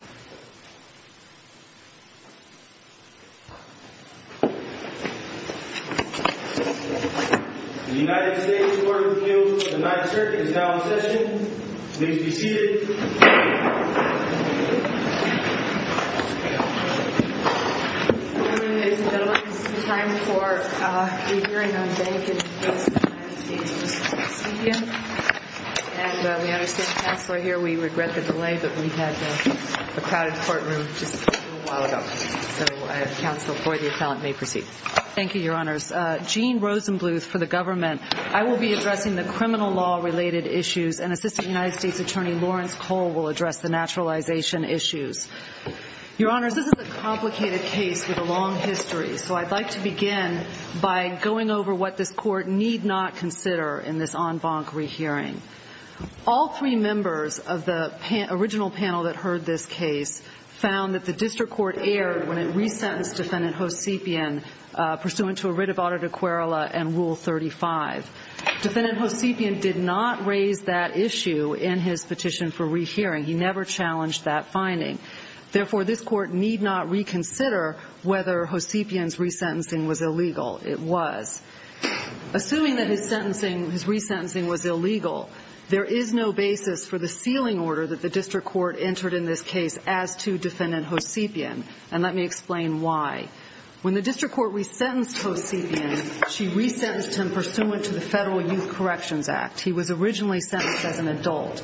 The United States Court of Appeals for the Ninth Circuit is now in session. Please be seated. Ladies and gentlemen, this is the time for the hearing on bank and business in the United States. And we understand the counselor here, we regret the delay, but we had a crowded courtroom just a little while ago. So counsel, the appellant may proceed. Thank you, your honors. Jean Rosenbluth for the government. I will be addressing the criminal law related issues, and Assistant United States Attorney Lawrence Cole will address the naturalization issues. Your honors, this is a complicated case with a long history, so I'd like to begin by going over what this court need not consider in this en banc rehearing. All three members of the original panel that heard this case found that the district court erred when it resentenced defendant Hovsepian pursuant to a writ of audita querela and Rule 35. Defendant Hovsepian did not raise that issue in his petition for rehearing. He never challenged that finding. Therefore, this court need not reconsider whether Hovsepian's resentencing was illegal. It was. Assuming that his resentencing was illegal, there is no basis for the sealing order that the district court entered in this case as to defendant Hovsepian. And let me explain why. When the district court resentenced Hovsepian, she resentenced him pursuant to the Federal Youth Corrections Act. He was originally sentenced as an adult.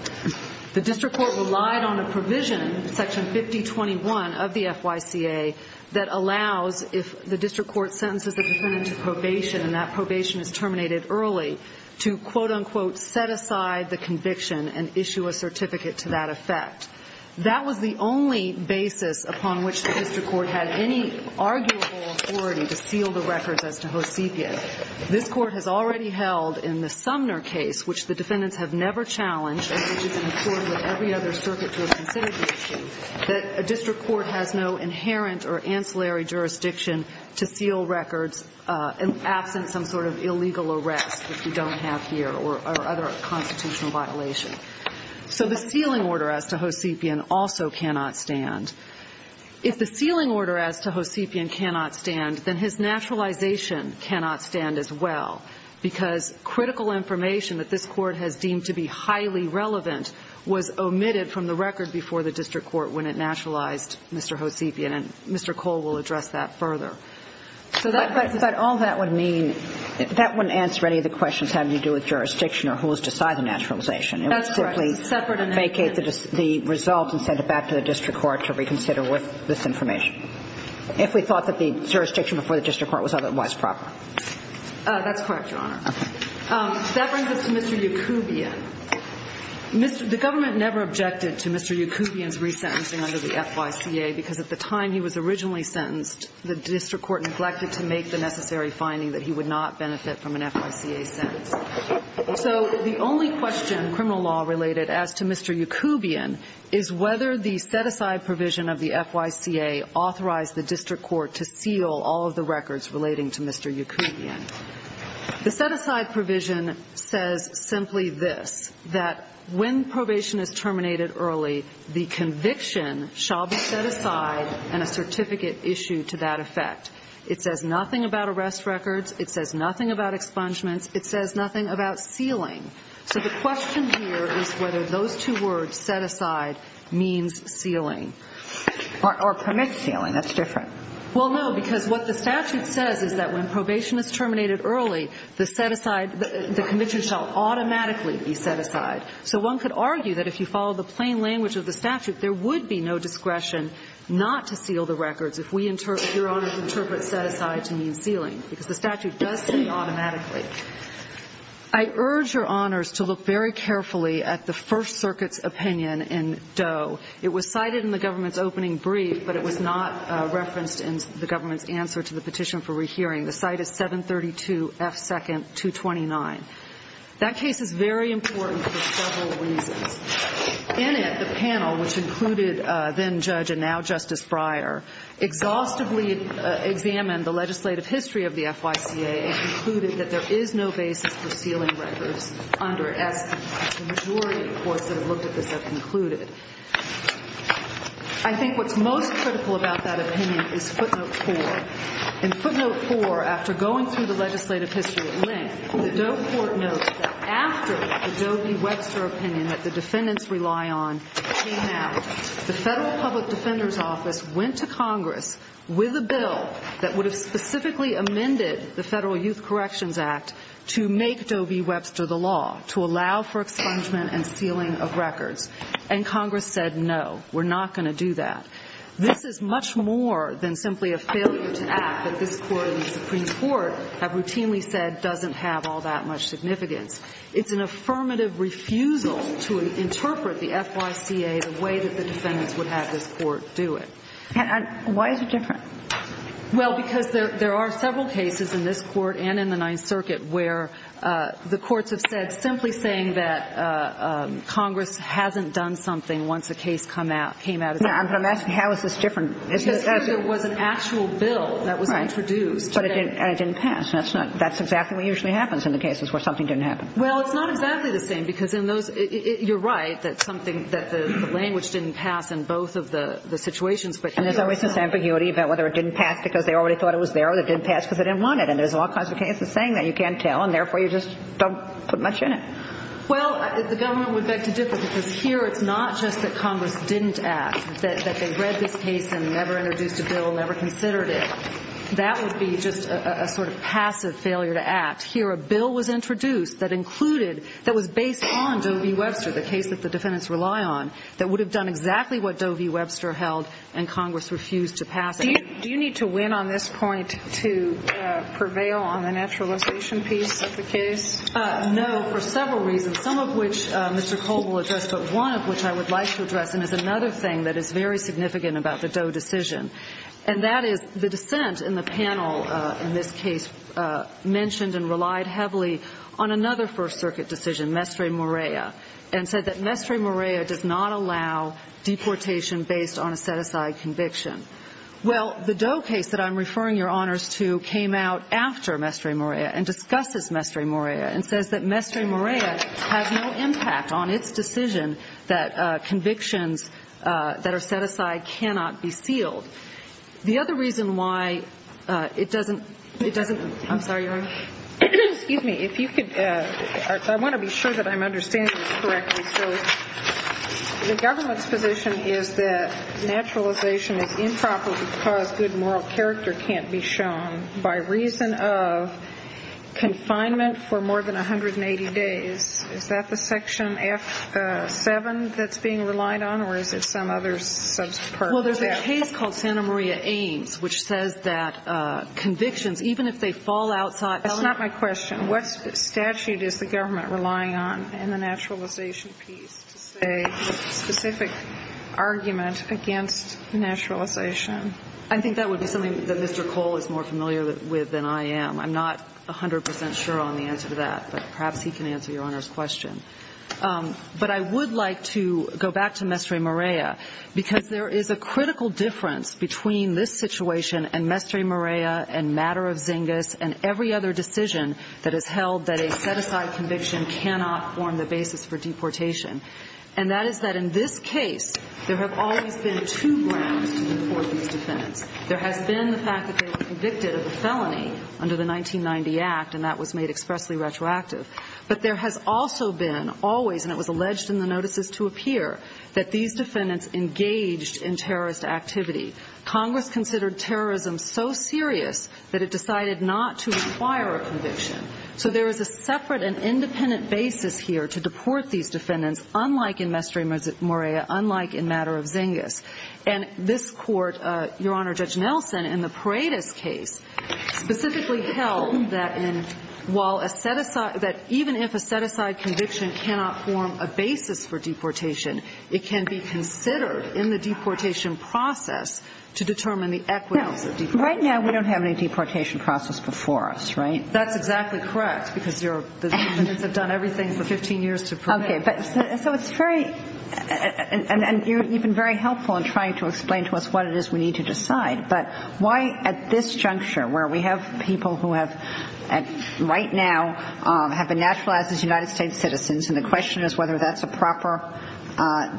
The district court relied on a provision, Section 5021 of the FYCA, that allows if the district court sentences the defendant to probation and that probation is terminated early, to quote-unquote set aside the conviction and issue a certificate to that effect. That was the only basis upon which the district court had any arguable authority to seal the records as to Hovsepian. This court has already held in the Sumner case, which the defendants have never challenged, and which is in accord with every other circuit to have considered this issue, that a district court has no inherent or ancillary jurisdiction to seal records absent some sort of illegal arrest, which we don't have here, or other constitutional violation. So the sealing order as to Hovsepian also cannot stand. If the sealing order as to Hovsepian cannot stand, then his naturalization cannot stand as well, because critical information that this court has deemed to be highly relevant was omitted from the record before the district court when it naturalized Mr. Hovsepian, and Mr. Cole will address that further. But all that would mean, that wouldn't answer any of the questions having to do with jurisdiction or who was to sign the naturalization. It would simply vacate the result and send it back to the district court to reconsider with this information, if we thought that the jurisdiction before the district court was otherwise proper. That's correct, Your Honor. Okay. That brings us to Mr. Yacoubian. The government never objected to Mr. Yacoubian's resentencing under the FYCA, because at the time he was originally sentenced, the district court neglected to make the necessary finding that he would not benefit from an FYCA sentence. So the only question criminal law related as to Mr. Yacoubian is whether the set-aside provision of the FYCA authorized the district court to seal all of the records relating to Mr. Yacoubian. The set-aside provision says simply this, that when probation is terminated early, the conviction shall be set aside and a certificate issued to that effect. It says nothing about arrest records. It says nothing about expungements. It says nothing about sealing. So the question here is whether those two words, set-aside, means sealing. Or permit sealing. That's different. Well, no, because what the statute says is that when probation is terminated early, the set-aside, the conviction shall automatically be set aside. So one could argue that if you follow the plain language of the statute, there would be no discretion not to seal the records if we, Your Honor, interpret set-aside to mean sealing, because the statute does say automatically. I urge Your Honors to look very carefully at the First Circuit's opinion in Doe. It was cited in the government's opening brief, but it was not referenced in the government's answer to the petition for rehearing. The cite is 732F2-229. That case is very important for several reasons. In it, the panel, which included then Judge and now Justice Breyer, exhaustively examined the legislative history of the FYCA and concluded that there is no basis for sealing records under it, as the majority of the courts that have looked at this have concluded. I think what's most critical about that opinion is footnote 4. In footnote 4, after going through the legislative history at length, the Doe court notes that after the Doe v. Webster opinion that the defendants rely on came out, the Federal Public Defender's Office went to Congress with a bill that would have specifically amended the Federal Youth Corrections Act to make Doe v. Webster the law, to allow for expungement and sealing of records. And Congress said, no, we're not going to do that. This is much more than simply a failure to act that this Court and the Supreme Court have routinely said doesn't have all that much significance. It's an affirmative refusal to interpret the FYCA the way that the defendants would have this Court do it. And why is it different? Well, because there are several cases in this Court and in the Ninth Circuit where the courts have said simply saying that Congress hasn't done something once a case came out. I'm going to ask you, how is this different? Because here there was an actual bill that was introduced. And it didn't pass. That's exactly what usually happens in the cases where something didn't happen. Well, it's not exactly the same, because in those – you're right, that something – that the language didn't pass in both of the situations. And there's always this ambiguity about whether it didn't pass because they already thought it was there or it didn't pass because they didn't want it. And there's all kinds of cases saying that. You can't tell, and therefore you just don't put much in it. Well, the government would beg to differ, because here it's not just that Congress didn't act, that they read this case and never introduced a bill, never considered it. That would be just a sort of passive failure to act. Here a bill was introduced that included – that was based on Doe v. Webster, the case that the defendants rely on, that would have done exactly what Doe v. Webster held and Congress refused to pass it. Do you need to win on this point to prevail on the naturalization piece of the case? No, for several reasons, some of which Mr. Cole will address, but one of which I would like to address and is another thing that is very significant about the Doe decision. And that is the dissent in the panel in this case mentioned and relied heavily on another First Circuit decision, Mestre Morea, and said that Mestre Morea does not allow deportation based on a set-aside conviction. Well, the Doe case that I'm referring your honors to came out after Mestre Morea and discusses Mestre Morea and says that Mestre Morea has no impact on its decision that convictions that are set aside cannot be sealed. The other reason why it doesn't – it doesn't – I'm sorry, Your Honor. Excuse me. If you could – I want to be sure that I'm understanding this correctly. So the government's position is that naturalization is improper because good moral character can't be shown by reason of confinement for more than 180 days. Is that the section F7 that's being relied on, or is it some other subpart of that? Well, there's a case called Santa Maria Ames, which says that convictions, even if they fall outside – That's not my question. What statute is the government relying on in the naturalization piece to say a specific argument against naturalization? I think that would be something that Mr. Cole is more familiar with than I am. I'm not 100 percent sure on the answer to that, but perhaps he can answer Your Honor's question. But I would like to go back to Mestre Morea because there is a critical difference between this situation and Mestre Morea and Matter of Zingas and every other decision that has held that a set-aside conviction cannot form the basis for deportation. And that is that in this case, there have always been two grounds to deport these defendants. There has been the fact that they were convicted of a felony under the 1990 Act, and that was made expressly retroactive. But there has also been always, and it was alleged in the notices to appear, that these defendants engaged in terrorist activity. Congress considered terrorism so serious that it decided not to require a conviction. So there is a separate and independent basis here to deport these defendants, unlike in Mestre Morea, unlike in Matter of Zingas. And this court, Your Honor, Judge Nelson, in the Paredes case, specifically held that even if a set-aside conviction cannot form a basis for deportation, it can be considered in the deportation process to determine the equivalence of deportation. Right now, we don't have any deportation process before us, right? That's exactly correct because the defendants have done everything for 15 years to prevent it. So it's very helpful in trying to explain to us what it is we need to decide, but why at this juncture where we have people who right now have been naturalized as United States citizens and the question is whether that's a proper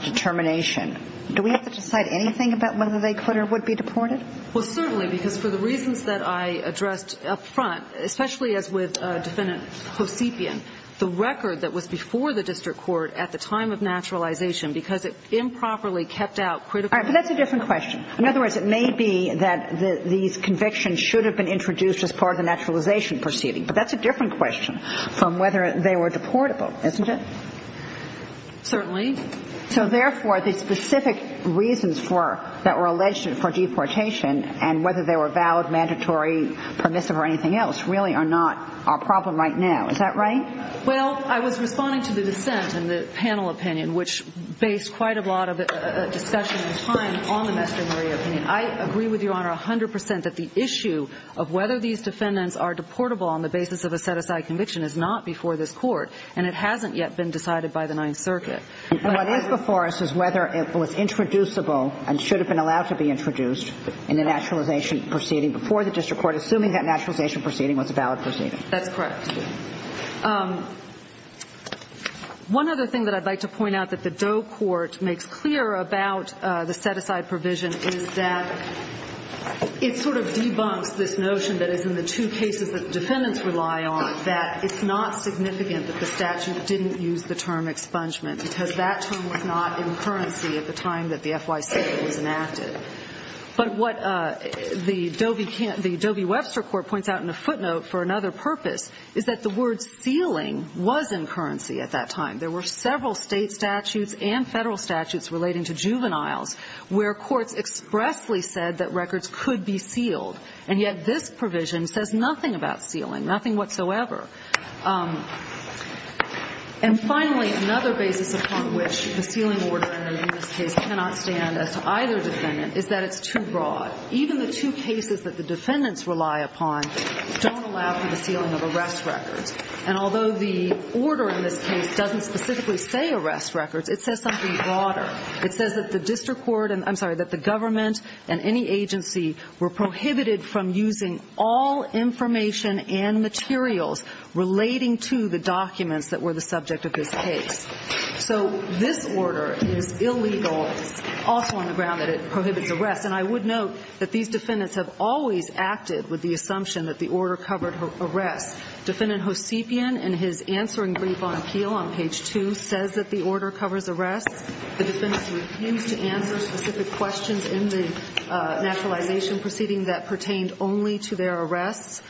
determination, do we have to decide anything about whether they could or would be deported? Well, certainly, because for the reasons that I addressed up front, especially as with Defendant Kosepian, the record that was before the district court at the time of naturalization, because it improperly kept out critical evidence. All right. But that's a different question. In other words, it may be that these convictions should have been introduced as part of the naturalization proceeding, but that's a different question from whether they were deportable, isn't it? Certainly. So, therefore, the specific reasons that were alleged for deportation and whether they were valid, mandatory, permissive, or anything else really are not our problem right now. Is that right? Well, I was responding to the dissent in the panel opinion, which based quite a lot of discussion and time on the Mr. Maria opinion. I agree with Your Honor 100 percent that the issue of whether these defendants are deportable on the basis of a set-aside conviction is not before this court, and it hasn't yet been decided by the Ninth Circuit. What is before us is whether it was introducible and should have been allowed to be introduced in the naturalization proceeding before the district court, assuming that naturalization proceeding was a valid proceeding. That's correct. One other thing that I'd like to point out that the Doe Court makes clear about the set-aside provision is that it sort of debunks this notion that is in the two cases that the defendants rely on, that it's not significant that the statute didn't use the term expungement because that term was not in currency at the time that the FYC was enacted. But what the Doe v. Webster Court points out in a footnote for another purpose is that the word sealing was in currency at that time. There were several state statutes and federal statutes relating to juveniles where courts expressly said that records could be sealed, and yet this provision says nothing about sealing, nothing whatsoever. And finally, another basis upon which the sealing order in this case cannot stand as to either defendant is that it's too broad. Even the two cases that the defendants rely upon don't allow for the sealing of arrest records. And although the order in this case doesn't specifically say arrest records, it says something broader. It says that the district court, I'm sorry, that the government and any agency were prohibited from using all information and materials relating to the documents that were the subject of this case. So this order is illegal, also on the ground that it prohibits arrest. And I would note that these defendants have always acted with the assumption that the order covered arrests. Defendant Hosepian, in his answering brief on appeal on page 2, says that the order covers arrests. The defendants refused to answer specific questions in the naturalization proceeding that pertained only to their arrests.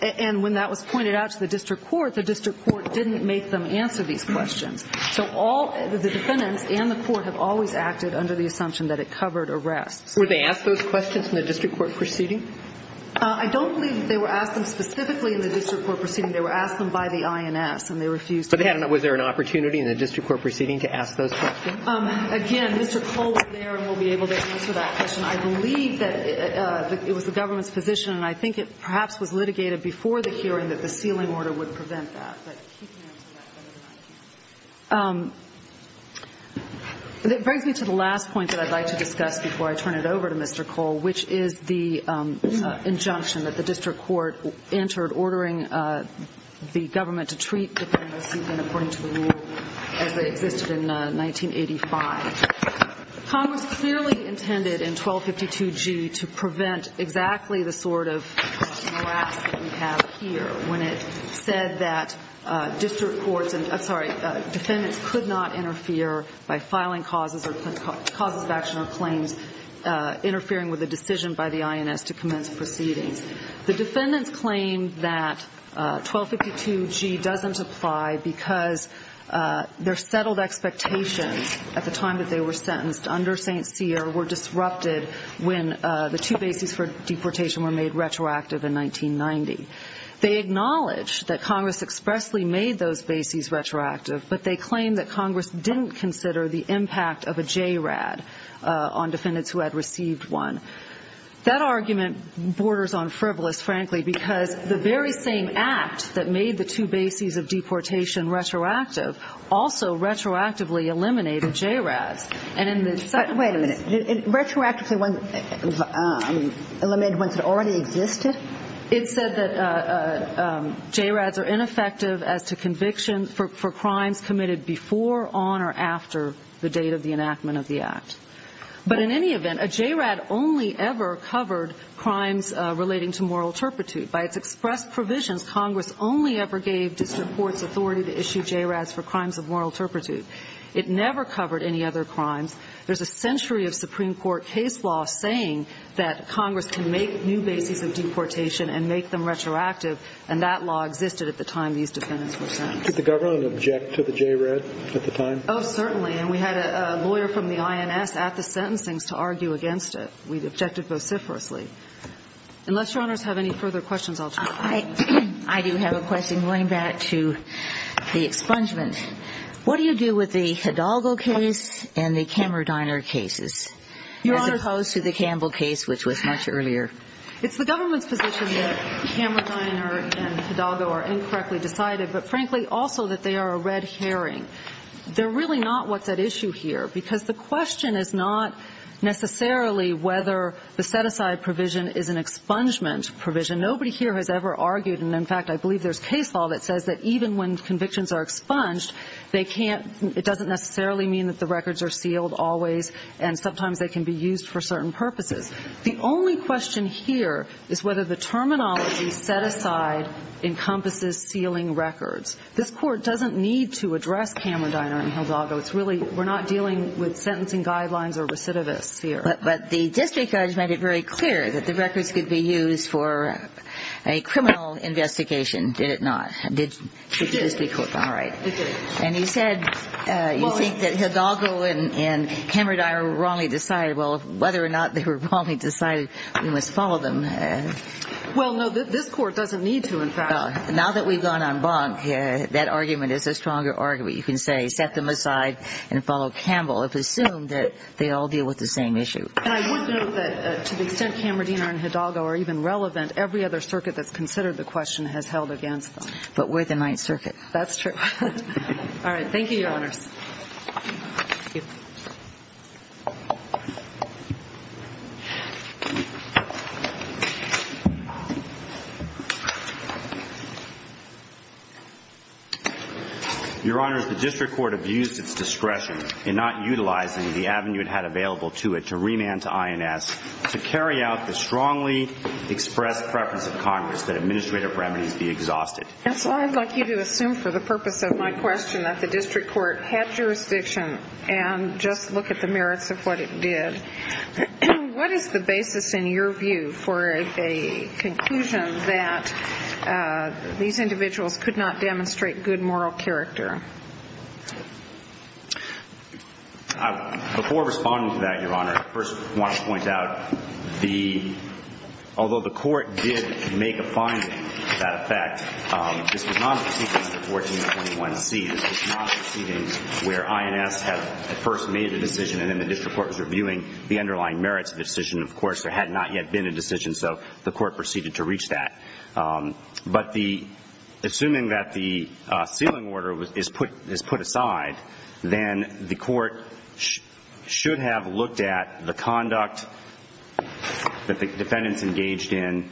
And when that was pointed out to the district court, the district court didn't make them answer these questions. So the defendants and the court have always acted under the assumption that it covered arrests. Were they asked those questions in the district court proceeding? I don't believe they were asked them specifically in the district court proceeding. They were asked them by the INS, and they refused to answer. Was there an opportunity in the district court proceeding to ask those questions? Again, Mr. Cole was there and will be able to answer that question. I believe that it was the government's position, and I think it perhaps was litigated before the hearing that the sealing order would prevent that. It brings me to the last point that I'd like to discuss before I turn it over to Mr. Cole, which is the injunction that the district court entered ordering the government to treat defendants even according to the rule as they existed in 1985. Congress clearly intended in 1252G to prevent exactly the sort of molasses that we have here when it said that district courts and, I'm sorry, defendants could not interfere by filing causes of action or claims interfering with a decision by the INS to commence proceedings. The defendants claimed that 1252G doesn't apply because their settled expectations at the time that they were sentenced under St. Cyr were disrupted when the two bases for deportation were made retroactive in 1990. They acknowledged that Congress expressly made those bases retroactive, but they claimed that Congress didn't consider the impact of a JRAD on defendants who had received one. That argument borders on frivolous, frankly, because the very same act that made the two bases of deportation retroactive also retroactively eliminated JRADs. Wait a minute. Retroactively eliminated ones that already existed? It said that JRADs are ineffective as to conviction for crimes committed before, on, or after the date of the enactment of the act. But in any event, a JRAD only ever covered crimes relating to moral turpitude. By its expressed provisions, Congress only ever gave district courts authority to issue JRADs for crimes of moral turpitude. It never covered any other crimes. There's a century of Supreme Court case law saying that Congress can make new bases of deportation and make them retroactive, and that law existed at the time these defendants were sentenced. Did the government object to the JRAD at the time? Oh, certainly. And we had a lawyer from the INS at the sentencing to argue against it. We objected vociferously. Unless Your Honors have any further questions, I'll turn it over. I do have a question going back to the expungement. What do you do with the Hidalgo case and the Kammerdeiner cases, as opposed to the Campbell case, which was much earlier? It's the government's position that Kammerdeiner and Hidalgo are incorrectly decided, but frankly, also that they are a red herring. They're really not what's at issue here, because the question is not necessarily whether the set-aside provision is an expungement provision. Nobody here has ever argued, and in fact, I believe there's case law that says that even when convictions are expunged, it doesn't necessarily mean that the records are sealed always, and sometimes they can be used for certain purposes. The only question here is whether the terminology set aside encompasses sealing records. This Court doesn't need to address Kammerdeiner and Hidalgo. It's really we're not dealing with sentencing guidelines or recidivists here. But the district judge made it very clear that the records could be used for a criminal investigation, did it not? Did the district court? It did. All right. It did. And he said you think that Hidalgo and Kammerdeiner were wrongly decided. Well, whether or not they were wrongly decided, we must follow them. Well, no, this Court doesn't need to, in fact. Now that we've gone en banc, that argument is a stronger argument. But you can say set them aside and follow Campbell if we assume that they all deal with the same issue. And I would note that to the extent Kammerdeiner and Hidalgo are even relevant, every other circuit that's considered the question has held against them. But we're the Ninth Circuit. That's true. All right. Thank you, Your Honors. Thank you. Your Honors, the district court abused its discretion in not utilizing the avenue it had available to it to remand to INS to carry out the strongly expressed preference of Congress that administrative remedies be exhausted. And so I'd like you to assume for the purpose of my question that the district court had jurisdiction and just look at the merits of what it did. What is the basis in your view for a conclusion that these individuals could not demonstrate good moral character? Before responding to that, Your Honor, I first want to point out although the court did make a finding to that effect, this was not a proceeding under 1421C. This was not a proceeding where INS had at first made a decision and then the district court was reviewing the underlying merits of the decision. Of course, there had not yet been a decision, so the court proceeded to reach that. But assuming that the sealing order is put aside, then the court should have looked at the conduct that the defendants engaged in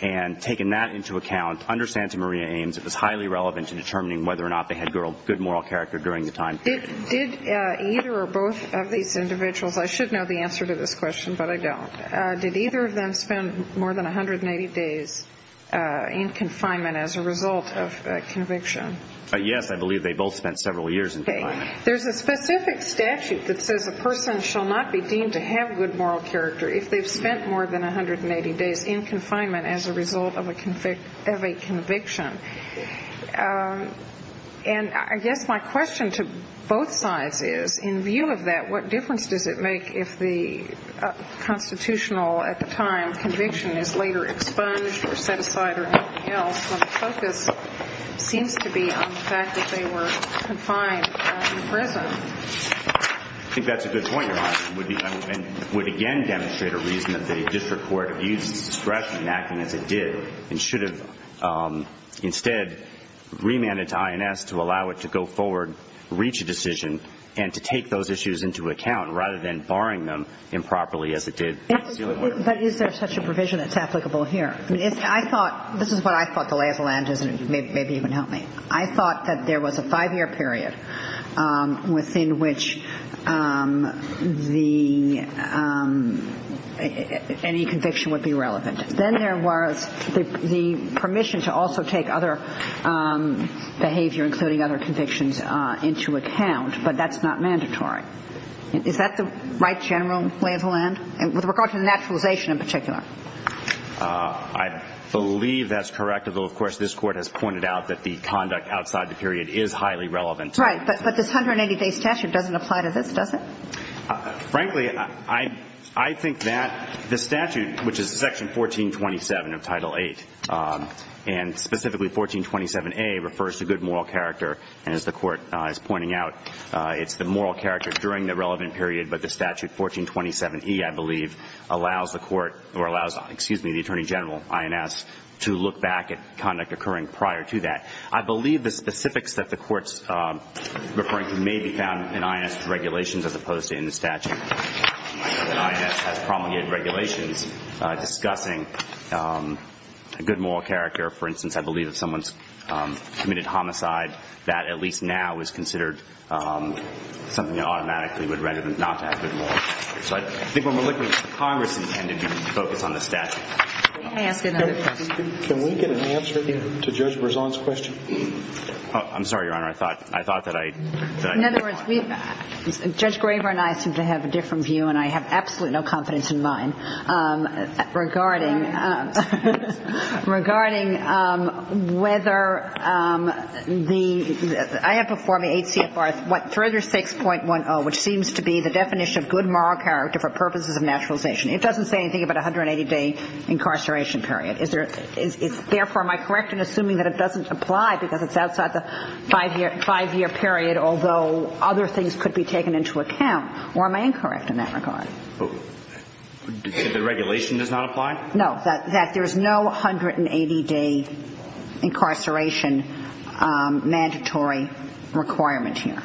and taken that into account under Santa Maria Ames. It was highly relevant to determining whether or not they had good moral character during the time period. Did either or both of these individuals, I should know the answer to this question, but I don't. Did either of them spend more than 180 days in confinement as a result of conviction? Yes, I believe they both spent several years in confinement. Okay. There's a specific statute that says a person shall not be deemed to have good moral character if they've spent more than 180 days in confinement as a result of a conviction. And I guess my question to both sides is, in view of that, what difference does it make if the constitutional, at the time, conviction is later expunged or set aside or anything else when the focus seems to be on the fact that they were confined in prison? I think that's a good point, Your Honor. It would again demonstrate a reason that the district court abused its discretion in acting as it did and should have instead remanded to INS to allow it to go forward, reach a decision, and to take those issues into account rather than barring them improperly as it did. But is there such a provision that's applicable here? This is what I thought the lay of the land is, and maybe you can help me. I thought that there was a five-year period within which any conviction would be relevant. Then there was the permission to also take other behavior, including other convictions, into account, but that's not mandatory. Is that the right general lay of the land with regard to the naturalization in particular? I believe that's correct, although of course this Court has pointed out that the conduct outside the period is highly relevant. Right, but this 180-day statute doesn't apply to this, does it? Frankly, I think that the statute, which is Section 1427 of Title VIII, and specifically 1427A refers to good moral character, and as the Court is pointing out, it's the moral character during the relevant period, but the statute 1427E, I believe, allows the Attorney General, INS, to look back at conduct occurring prior to that. I believe the specifics that the Court's referring to may be found in INS regulations as opposed to in the statute. I know that INS has promulgated regulations discussing a good moral character. For instance, I believe if someone's committed homicide, that at least now is considered something that automatically would render them not to have good morals. So I think when we're looking at what Congress intended, we focus on the statute. Can I ask another question? Can we get an answer to Judge Berzon's question? I'm sorry, Your Honor. I thought that I— In other words, Judge Graber and I seem to have a different view, and I have absolutely no confidence in mine regarding whether the— I have before me HCFR 36.10, which seems to be the definition of good moral character for purposes of naturalization. It doesn't say anything about a 180-day incarceration period. Therefore, am I correct in assuming that it doesn't apply because it's outside the five-year period, although other things could be taken into account? Or am I incorrect in that regard? The regulation does not apply? No, that there's no 180-day incarceration mandatory requirement here.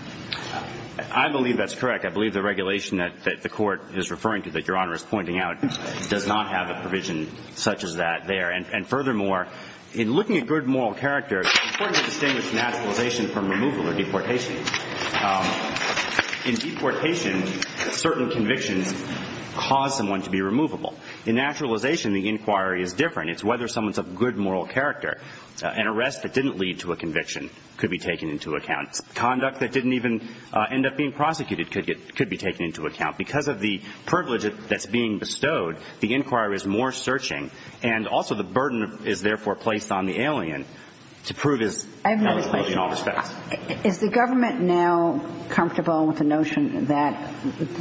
I believe that's correct. I believe the regulation that the Court is referring to, that Your Honor is pointing out, does not have a provision such as that there. And furthermore, in looking at good moral character, it's important to distinguish naturalization from removal or deportation. In deportation, certain convictions cause someone to be removable. In naturalization, the inquiry is different. It's whether someone's of good moral character. An arrest that didn't lead to a conviction could be taken into account. Conduct that didn't even end up being prosecuted could be taken into account. Because of the privilege that's being bestowed, the inquiry is more searching, and also the burden is therefore placed on the alien to prove his in all respects. I have another question. Is the government now comfortable with the notion that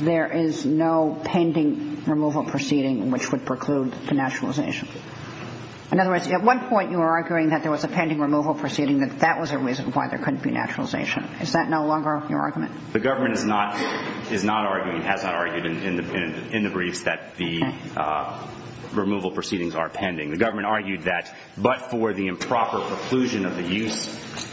there is no pending removal proceeding which would preclude the naturalization? In other words, at one point you were arguing that there was a pending removal proceeding, that that was a reason why there couldn't be naturalization. Is that no longer your argument? The government is not arguing, has not argued in the briefs, that the removal proceedings are pending. The government argued that but for the improper preclusion of the use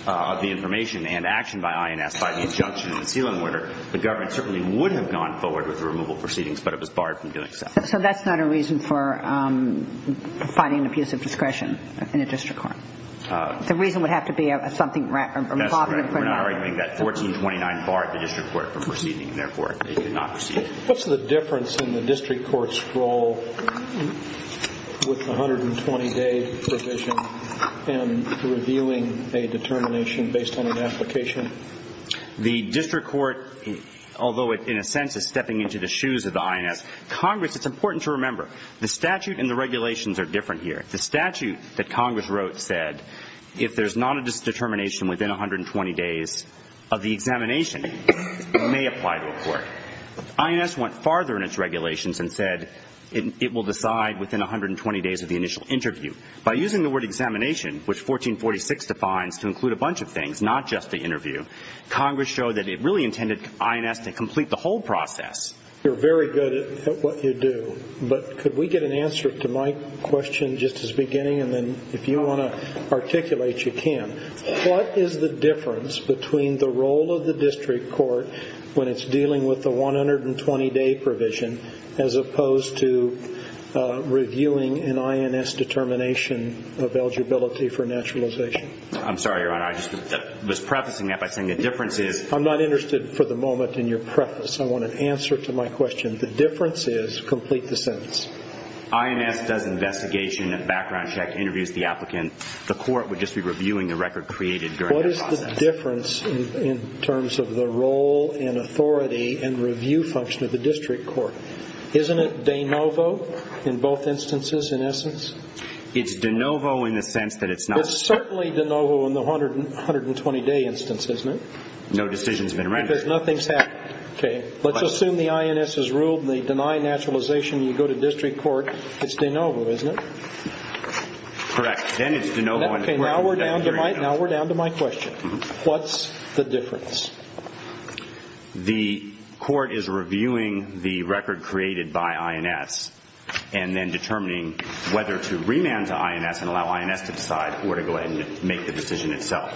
of the information and action by INS by the injunction of the sealing order, the government certainly would have gone forward with the removal proceedings, but it was barred from doing so. So that's not a reason for providing an abuse of discretion in a district court? The reason would have to be something rather improper. We're not arguing that. 1429 barred the district court from proceeding, and therefore it could not proceed. What's the difference in the district court's role with the 120-day provision in reviewing a determination based on an application? The district court, although it in a sense is stepping into the shoes of the INS, Congress, it's important to remember, the statute and the regulations are different here. The statute that Congress wrote said if there's not a determination within 120 days of the examination, it may apply to a court. INS went farther in its regulations and said it will decide within 120 days of the initial interview. By using the word examination, which 1446 defines, to include a bunch of things, not just the interview, Congress showed that it really intended INS to complete the whole process. You're very good at what you do, but could we get an answer to my question just as beginning, and then if you want to articulate, you can. What is the difference between the role of the district court when it's dealing with the 120-day provision as opposed to reviewing an INS determination of eligibility for naturalization? I'm sorry, Your Honor. I was prefacing that by saying the difference is I'm not interested for the moment in your preface. I want an answer to my question. The difference is complete the sentence. INS does investigation, background check, interviews the applicant. The court would just be reviewing the record created during that process. What is the difference in terms of the role and authority and review function of the district court? Isn't it de novo in both instances, in essence? It's de novo in the sense that it's not. It's certainly de novo in the 120-day instance, isn't it? No decision's been rendered. Because nothing's happened. Okay. Let's assume the INS has ruled. They deny naturalization. You go to district court. It's de novo, isn't it? Correct. Then it's de novo. Now we're down to my question. What's the difference? The court is reviewing the record created by INS and then determining whether to remand to INS and allow INS to decide where to go ahead and make the decision itself.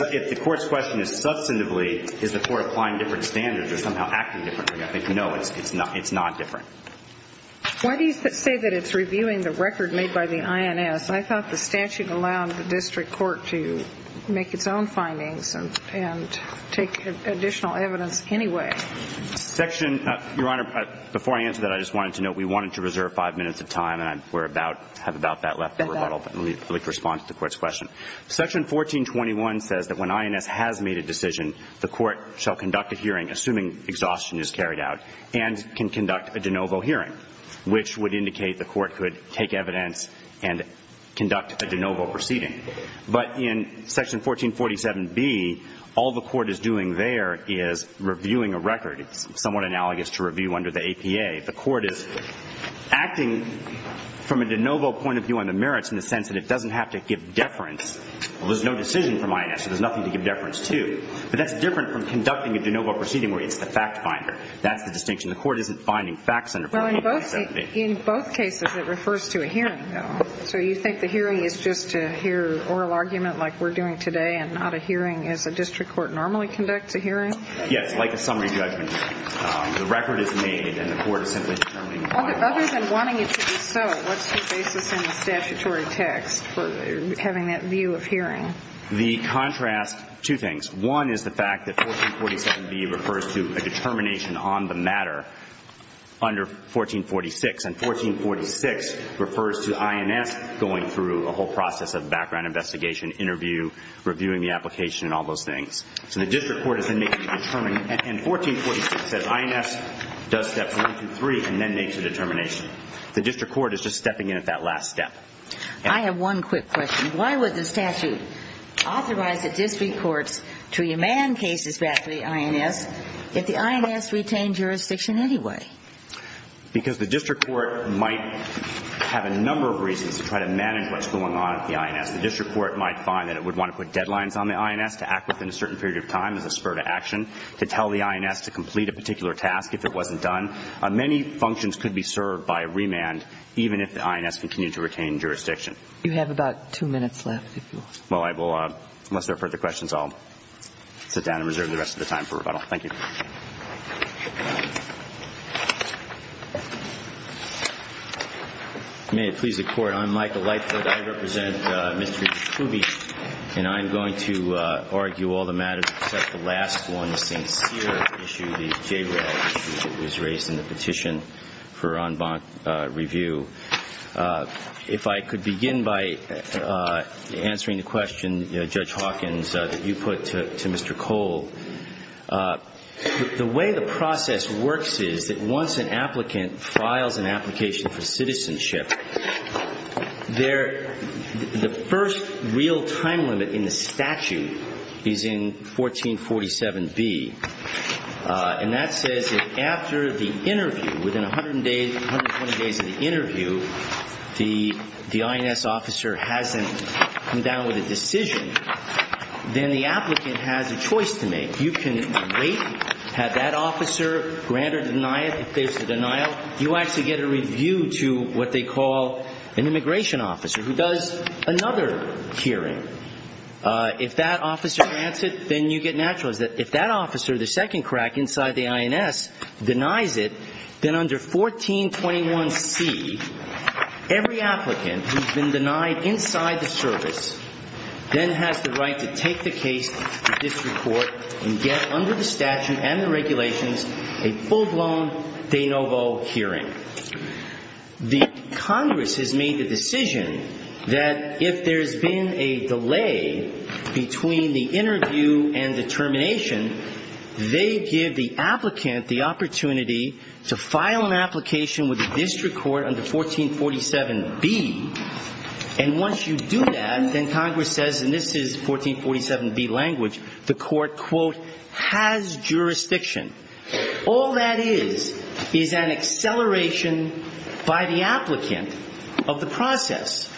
If the court's question is substantively, is the court applying different standards or somehow acting differently, I think no, it's not different. Why do you say that it's reviewing the record made by the INS? I thought the statute allowed the district court to make its own findings and take additional evidence anyway. Your Honor, before I answer that, I just wanted to note we wanted to reserve five minutes of time and we're about to have about that left in rebuttal, but let me respond to the court's question. Section 1421 says that when INS has made a decision, the court shall conduct a hearing, assuming exhaustion is carried out, and can conduct a de novo hearing, which would indicate the court could take evidence and conduct a de novo proceeding. But in Section 1447B, all the court is doing there is reviewing a record. It's somewhat analogous to review under the APA. The court is acting from a de novo point of view on the merits in the sense that it doesn't have to give deference. Well, there's no decision from INS, so there's nothing to give deference to. But that's different from conducting a de novo proceeding where it's the fact finder. That's the distinction. The court isn't finding facts under 1447B. Well, in both cases it refers to a hearing, though. So you think the hearing is just to hear oral argument like we're doing today and not a hearing as a district court normally conducts a hearing? Yes, like a summary judgment. The record is made and the court is simply determining why. Other than wanting it to be so, what's your basis in the statutory text for having that view of hearing? The contrast, two things. One is the fact that 1447B refers to a determination on the matter under 1446. And 1446 refers to INS going through a whole process of background investigation, interview, reviewing the application, and all those things. So the district court is then making a determination. And 1446 says INS does steps one through three and then makes a determination. The district court is just stepping in at that last step. I have one quick question. Why would the statute authorize the district courts to remand cases back to the INS if the INS retained jurisdiction anyway? Because the district court might have a number of reasons to try to manage what's going on at the INS. The district court might find that it would want to put deadlines on the INS to act within a certain period of time as a spur to action, to tell the INS to complete a particular task if it wasn't done. Many functions could be served by remand even if the INS continued to retain jurisdiction. You have about two minutes left. Well, I will, unless there are further questions, I'll sit down and reserve the rest of the time for rebuttal. Thank you. May it please the Court. I'm Michael Lightfoot. I represent Mr. Kuby, and I'm going to argue all the matters except the last one, the St. Cyr issue, the JRAD issue that was raised in the petition for en banc review. If I could begin by answering the question, Judge Hawkins, that you put to Mr. Cole. The way the process works is that once an applicant files an application for citizenship, the first real time limit in the statute is in 1447B, and that says that after the interview, within 100 days, 120 days of the interview, the INS officer hasn't come down with a decision, then the applicant has a choice to make. You can wait, have that officer grant or deny it, if there's a denial. You actually get a review to what they call an immigration officer who does another hearing. If that officer grants it, then you get naturalized. If that officer, the second crack inside the INS, denies it, then under 1421C, every applicant who's been denied inside the service then has the right to take the case to district court and get under the statute and the regulations a full-blown de novo hearing. The Congress has made the decision that if there's been a delay between the interview and the termination, they give the applicant the opportunity to file an application with the district court under 1447B, and once you do that, then Congress says, and this is 1447B language, the court, quote, has jurisdiction. All that is is an acceleration by the applicant of the process.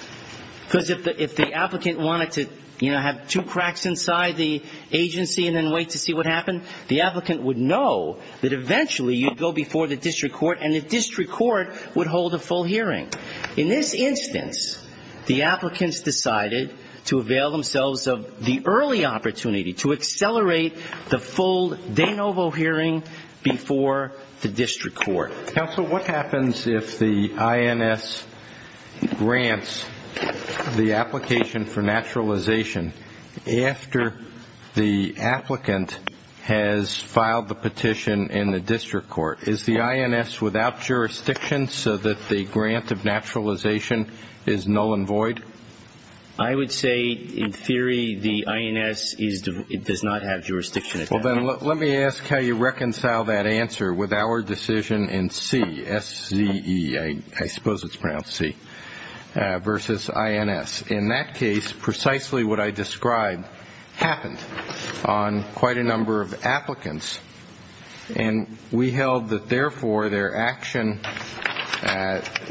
Because if the applicant wanted to have two cracks inside the agency and then wait to see what happened, the applicant would know that eventually you'd go before the district court and the district court would hold a full hearing. In this instance, the applicants decided to avail themselves of the early opportunity to accelerate the full de novo hearing before the district court. Counsel, what happens if the INS grants the application for naturalization after the applicant has filed the petition in the district court? Is the INS without jurisdiction so that the grant of naturalization is null and void? I would say in theory the INS does not have jurisdiction. Well, then let me ask how you reconcile that answer with our decision in C, S-Z-E, I suppose it's pronounced C, versus INS. In that case, precisely what I described happened on quite a number of applicants, and we held that therefore their action,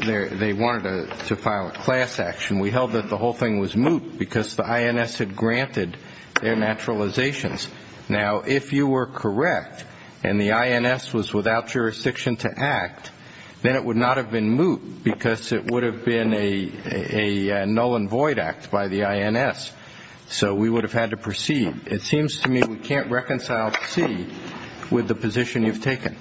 they wanted to file a class action. We held that the whole thing was moot because the INS had granted their naturalizations. Now, if you were correct and the INS was without jurisdiction to act, then it would not have been moot because it would have been a null and void act by the INS. So we would have had to proceed. It seems to me we can't reconcile C with the position you've taken.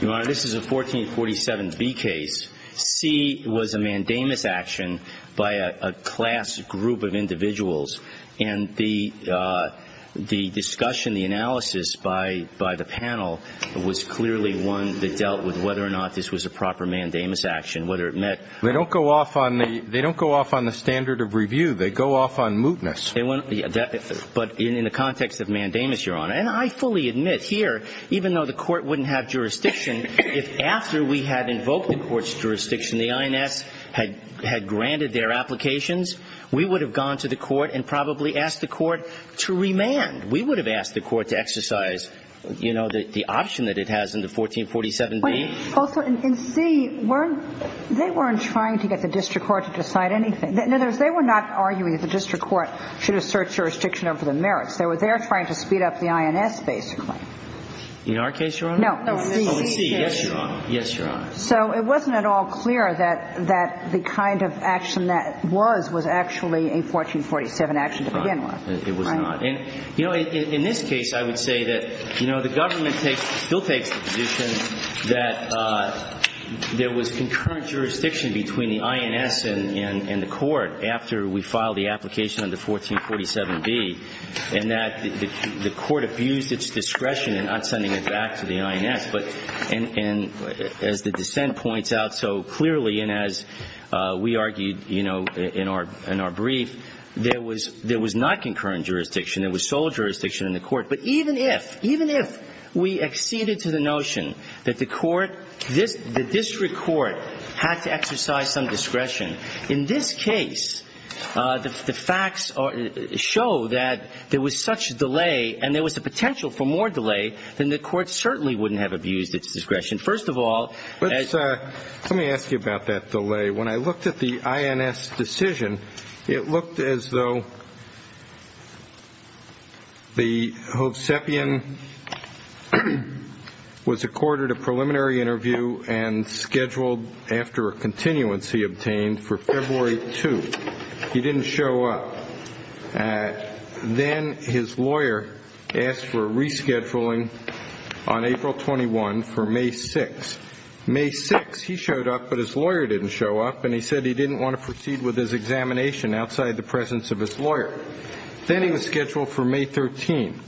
Your Honor, this is a 1447B case. C was a mandamus action by a class group of individuals, and the discussion, the analysis by the panel was clearly one that dealt with whether or not this was a proper mandamus action, whether it met. They don't go off on the standard of review. They go off on mootness. But in the context of mandamus, Your Honor, and I fully admit here, even though the Court wouldn't have jurisdiction, if after we had invoked the Court's jurisdiction, the INS had granted their applications, we would have gone to the Court and probably asked the Court to remand. We would have asked the Court to exercise, you know, the option that it has in the 1447B. Also, in C, they weren't trying to get the district court to decide anything. In other words, they were not arguing that the district court should assert jurisdiction over the merits. They were there trying to speed up the INS, basically. In our case, Your Honor? No. In C, yes, Your Honor. Yes, Your Honor. So it wasn't at all clear that the kind of action that was was actually a 1447 action to begin with. It was not. And, you know, in this case, I would say that, you know, the government still takes the position that there was concurrent jurisdiction between the INS and the Court after we filed the application under 1447B, and that the Court abused its discretion in not sending it back to the INS. But as the dissent points out so clearly, and as we argued, you know, in our brief, there was not concurrent jurisdiction. There was sole jurisdiction in the Court. But even if, even if we acceded to the notion that the Court, this, the district court had to exercise some discretion, in this case, the facts show that there was such delay and there was a potential for more delay, then the Court certainly wouldn't have abused its discretion. First of all. Let me ask you about that delay. When I looked at the INS decision, it looked as though the Hovsepian was accorded a preliminary interview and scheduled after a continuance he obtained for February 2. He didn't show up. Then his lawyer asked for a rescheduling on April 21 for May 6. May 6, he showed up, but his lawyer didn't show up, and he said he didn't want to proceed with his examination outside the presence of his lawyer. Then he was scheduled for May 13.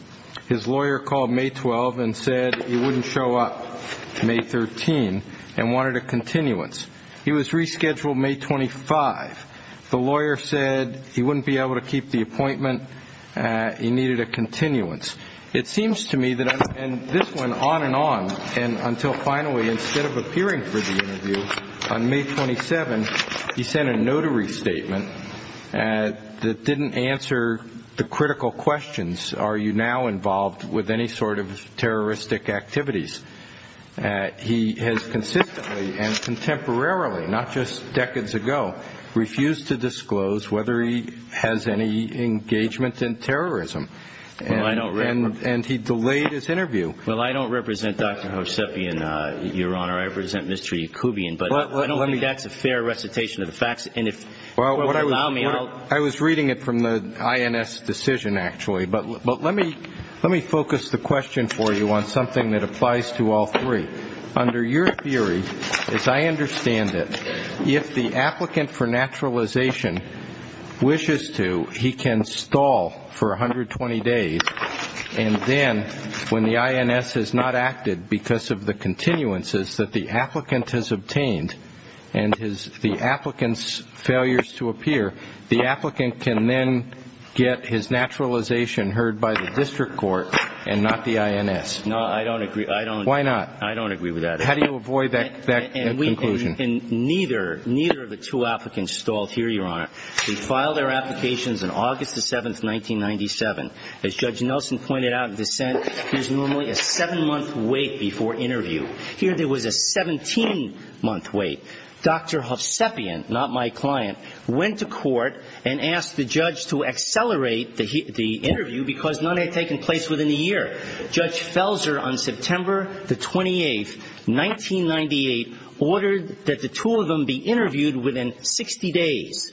His lawyer called May 12 and said he wouldn't show up May 13 and wanted a continuance. He was rescheduled May 25. The lawyer said he wouldn't be able to keep the appointment. He needed a continuance. It seems to me that this went on and on until finally, instead of appearing for the interview on May 27, he sent a notary statement that didn't answer the critical questions, are you now involved with any sort of terroristic activities. He has consistently and contemporarily, not just decades ago, refused to disclose whether he has any engagement in terrorism. And he delayed his interview. Well, I don't represent Dr. Hosepian, Your Honor. I represent Mr. Yakubian, but I don't think that's a fair recitation of the facts. I was reading it from the INS decision, actually. But let me focus the question for you on something that applies to all three. Under your theory, as I understand it, if the applicant for naturalization wishes to, he can stall for 120 days, and then when the INS has not acted because of the continuances that the applicant has obtained and the applicant's failures to appear, the applicant can then get his naturalization heard by the district court and not the INS. No, I don't agree. Why not? I don't agree with that. How do you avoid that conclusion? And neither of the two applicants stalled here, Your Honor. We filed our applications on August 7, 1997. As Judge Nelson pointed out in dissent, there's normally a seven-month wait before interview. Here there was a 17-month wait. Dr. Hosepian, not my client, went to court and asked the judge to accelerate the interview because none had taken place within a year. Judge Felser, on September the 28th, 1998, ordered that the two of them be interviewed within 60 days.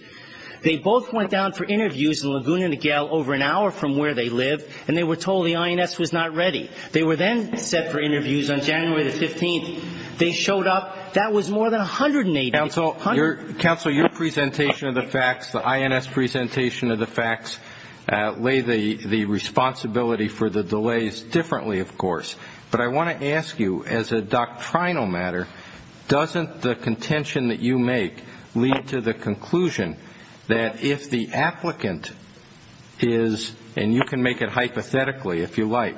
They both went down for interviews in Laguna Niguel over an hour from where they lived, and they were told the INS was not ready. They were then set for interviews on January the 15th. They showed up. That was more than 180 days. Counsel, your presentation of the facts, the INS presentation of the facts, lay the responsibility for the delays differently, of course. But I want to ask you, as a doctrinal matter, doesn't the contention that you make lead to the conclusion that if the applicant is, and you can make it hypothetically if you like,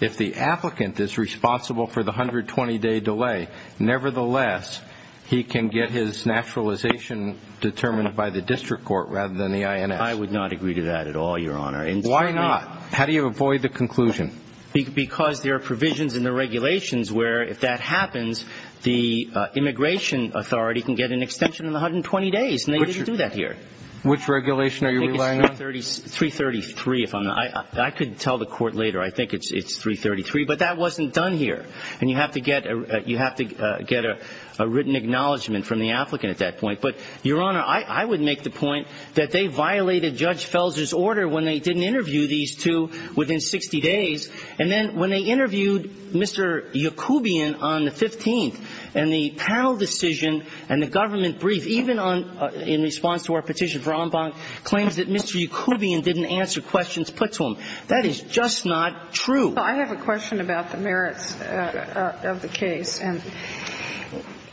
if the applicant is responsible for the 120-day delay, nevertheless he can get his naturalization determined by the district court rather than the INS? I would not agree to that at all, Your Honor. Why not? How do you avoid the conclusion? Because there are provisions in the regulations where, if that happens, the immigration authority can get an extension of 120 days, and they didn't do that here. Which regulation are you relying on? I think it's 333. I could tell the court later I think it's 333, but that wasn't done here. And you have to get a written acknowledgment from the applicant at that point. But, Your Honor, I would make the point that they violated Judge Felser's order when they didn't interview these two within 60 days. And then when they interviewed Mr. Yacoubian on the 15th, and the panel decision and the government brief, even in response to our petition for en banc, claims that Mr. Yacoubian didn't answer questions put to him. That is just not true. Well, I have a question about the merits of the case.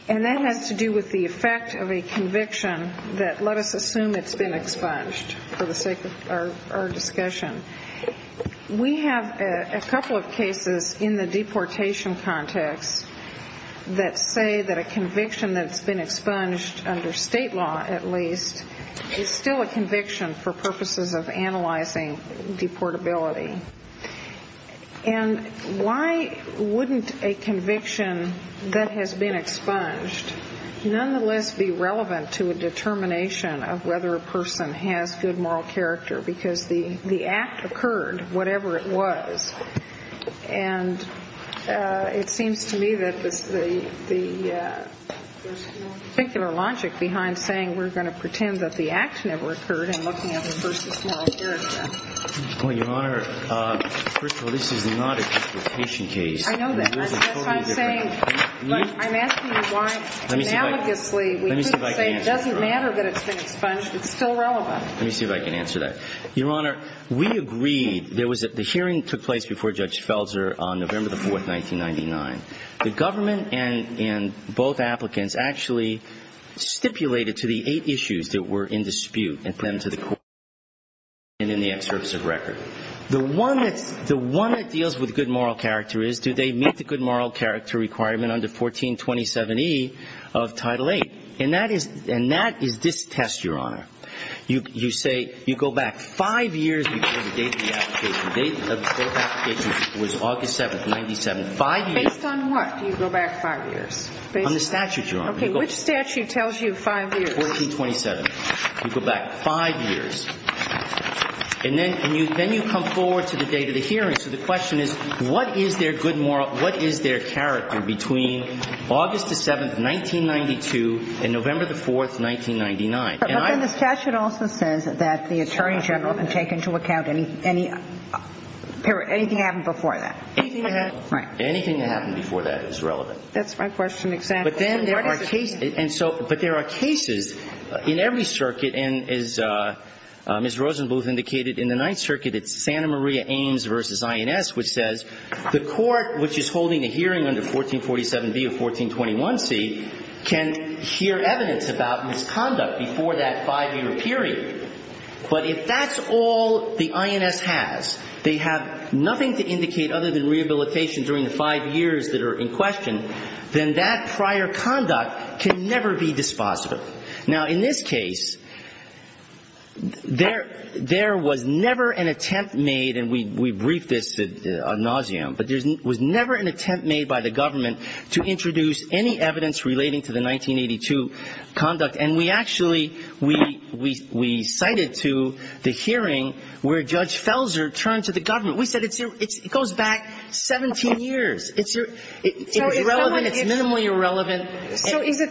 And that has to do with the effect of a conviction that let us assume it's been expunged for the sake of our discussion. We have a couple of cases in the deportation context that say that a conviction that's been expunged, under state law at least, is still a conviction for purposes of analyzing deportability. And why wouldn't a conviction that has been expunged, nonetheless be relevant to a determination of whether a person has good moral character? Because the act occurred, whatever it was. And it seems to me that there's a particular logic behind saying we're going to pretend that the act never occurred and looking at the person's moral character. Well, Your Honor, first of all, this is not a deportation case. I know that. That's what I'm saying. But I'm asking you why, analogously, we could say it doesn't matter that it's been expunged. It's still relevant. Let me see if I can answer that. Your Honor, we agreed. The hearing took place before Judge Felzer on November 4, 1999. The government and both applicants actually stipulated to the eight issues that were in dispute and put them to the court and in the excerpts of record. The one that deals with good moral character is, do they meet the good moral character requirement under 1427E of Title VIII? And that is this test, Your Honor. You say you go back five years before the date of the application. The date of the application was August 7, 1997. Five years. Based on what do you go back five years? On the statute, Your Honor. Okay. Which statute tells you five years? 1427. You go back five years. And then you come forward to the date of the hearing. So the question is, what is their good moral, what is their character between August 7, 1992 and November 4, 1999? But then the statute also says that the Attorney General can take into account any period, anything that happened before that. Anything that happened before that is relevant. That's my question exactly. But there are cases in every circuit, and as Ms. Rosenbluth indicated, in the Ninth Circuit it's Santa Maria Ames v. INS, which says the court which is holding the hearing under 1447B of 1421C can hear evidence about misconduct before that five-year period. But if that's all the INS has, they have nothing to indicate other than rehabilitation during the five years that are in question, then that prior conduct can never be dispositive. Now, in this case, there was never an attempt made, and we briefed this ad nauseam, but there was never an attempt made by the government to introduce any evidence relating to the 1982 conduct. And we actually, we cited to the hearing where Judge Felser turned to the government. We said it goes back 17 years. It's relevant. It's minimally irrelevant. So is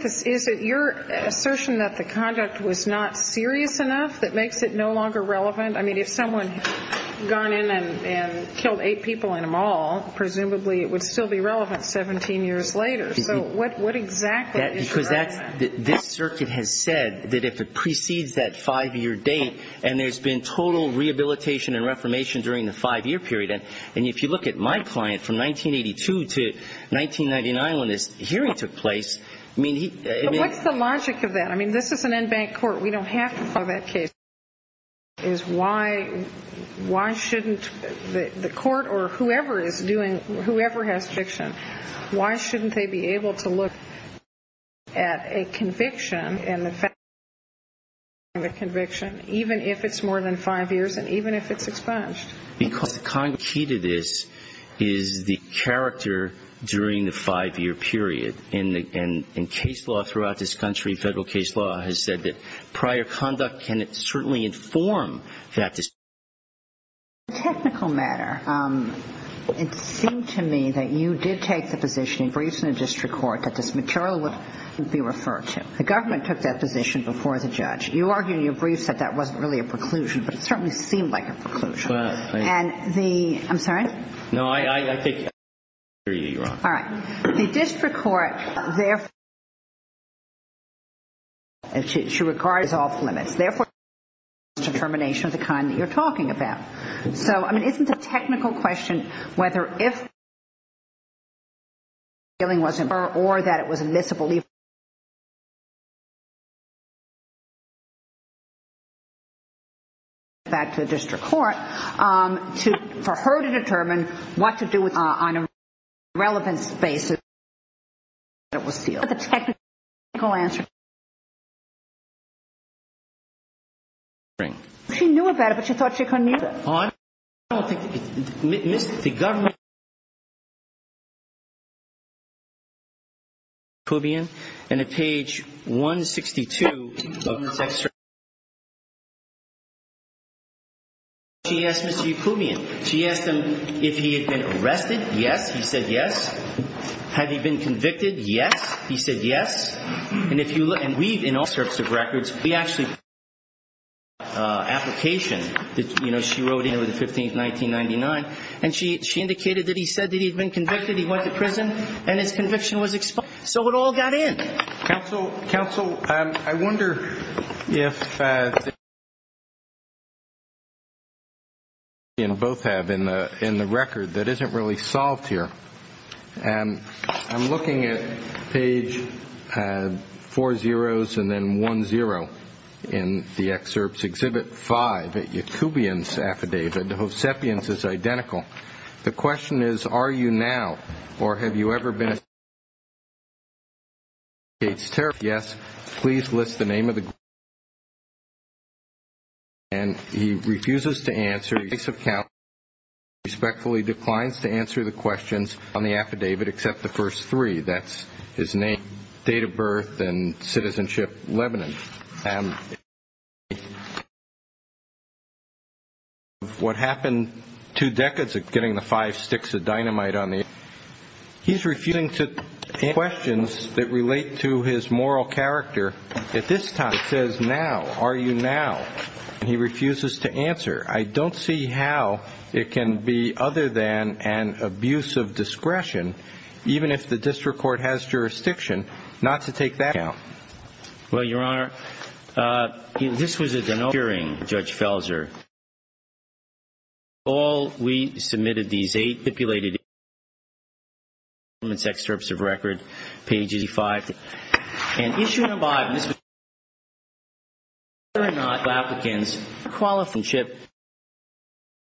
it your assertion that the conduct was not serious enough that makes it no longer relevant? I mean, if someone had gone in and killed eight people in a mall, presumably it would still be relevant 17 years later. So what exactly is relevant? Because this circuit has said that if it precedes that five-year date and there's been total rehabilitation and reformation during the five-year period, and if you look at my client from 1982 to 1999 when this hearing took place, I mean, he – But what's the logic of that? I mean, this is an end-bank court. We don't have to follow that case. My question is why shouldn't the court or whoever is doing, whoever has fiction, why shouldn't they be able to look at a conviction and the fact that it's a five-year conviction, even if it's more than five years and even if it's expunged? Because the key to this is the character during the five-year period. And case law throughout this country, federal case law, has said that prior conduct can certainly inform that decision. On a technical matter, it seemed to me that you did take the position in briefs in the district court that this material would be referred to. The government took that position before the judge. You argued in your briefs that that wasn't really a preclusion, but it certainly seemed like a preclusion. And the – I'm sorry? No, I think you're wrong. All right. The district court therefore – she regarded it as off-limits. Therefore, it's a determination of the kind that you're talking about. So, I mean, isn't it a technical question whether if –– or that it was a misbelief –– back to the district court for her to determine what to do on a relevant basis –– that it was sealed. But the technical answer – She knew about it, but she thought she couldn't use it. I don't think – the government –– and at page 162 of –– she asked Mr. Yakubian. She asked him if he had been arrested. Yes. He said yes. Had he been convicted? Yes. He said yes. And if you look – and we, in our records, we actually –– that, you know, she wrote in on the 15th, 1999. And she indicated that he said that he had been convicted. He went to prison. And his conviction was exposed. So it all got in. Counsel, I wonder if –– both have in the record that isn't really solved here. I'm looking at page four zeroes and then one zero in the excerpts. Exhibit five, Yakubian's affidavit. Hosepian's is identical. The question is, are you now or have you ever been –– yes, please list the name of the –– and he refuses to answer. He respectfully declines to answer the questions on the affidavit except the first three. That's his name, date of birth, and citizenship, Lebanon. What happened two decades of getting the five sticks of dynamite on the –– he's refusing to answer questions that relate to his moral character. At this time, it says now. Are you now? And he refuses to answer. I don't see how it can be other than an abuse of discretion, even if the district court has jurisdiction, not to take that account. Well, Your Honor, this was a –– hearing, Judge Felser. All we submitted, these eight stipulated –– excerpts of record, pages five –– and issue number five –– are not applicants for –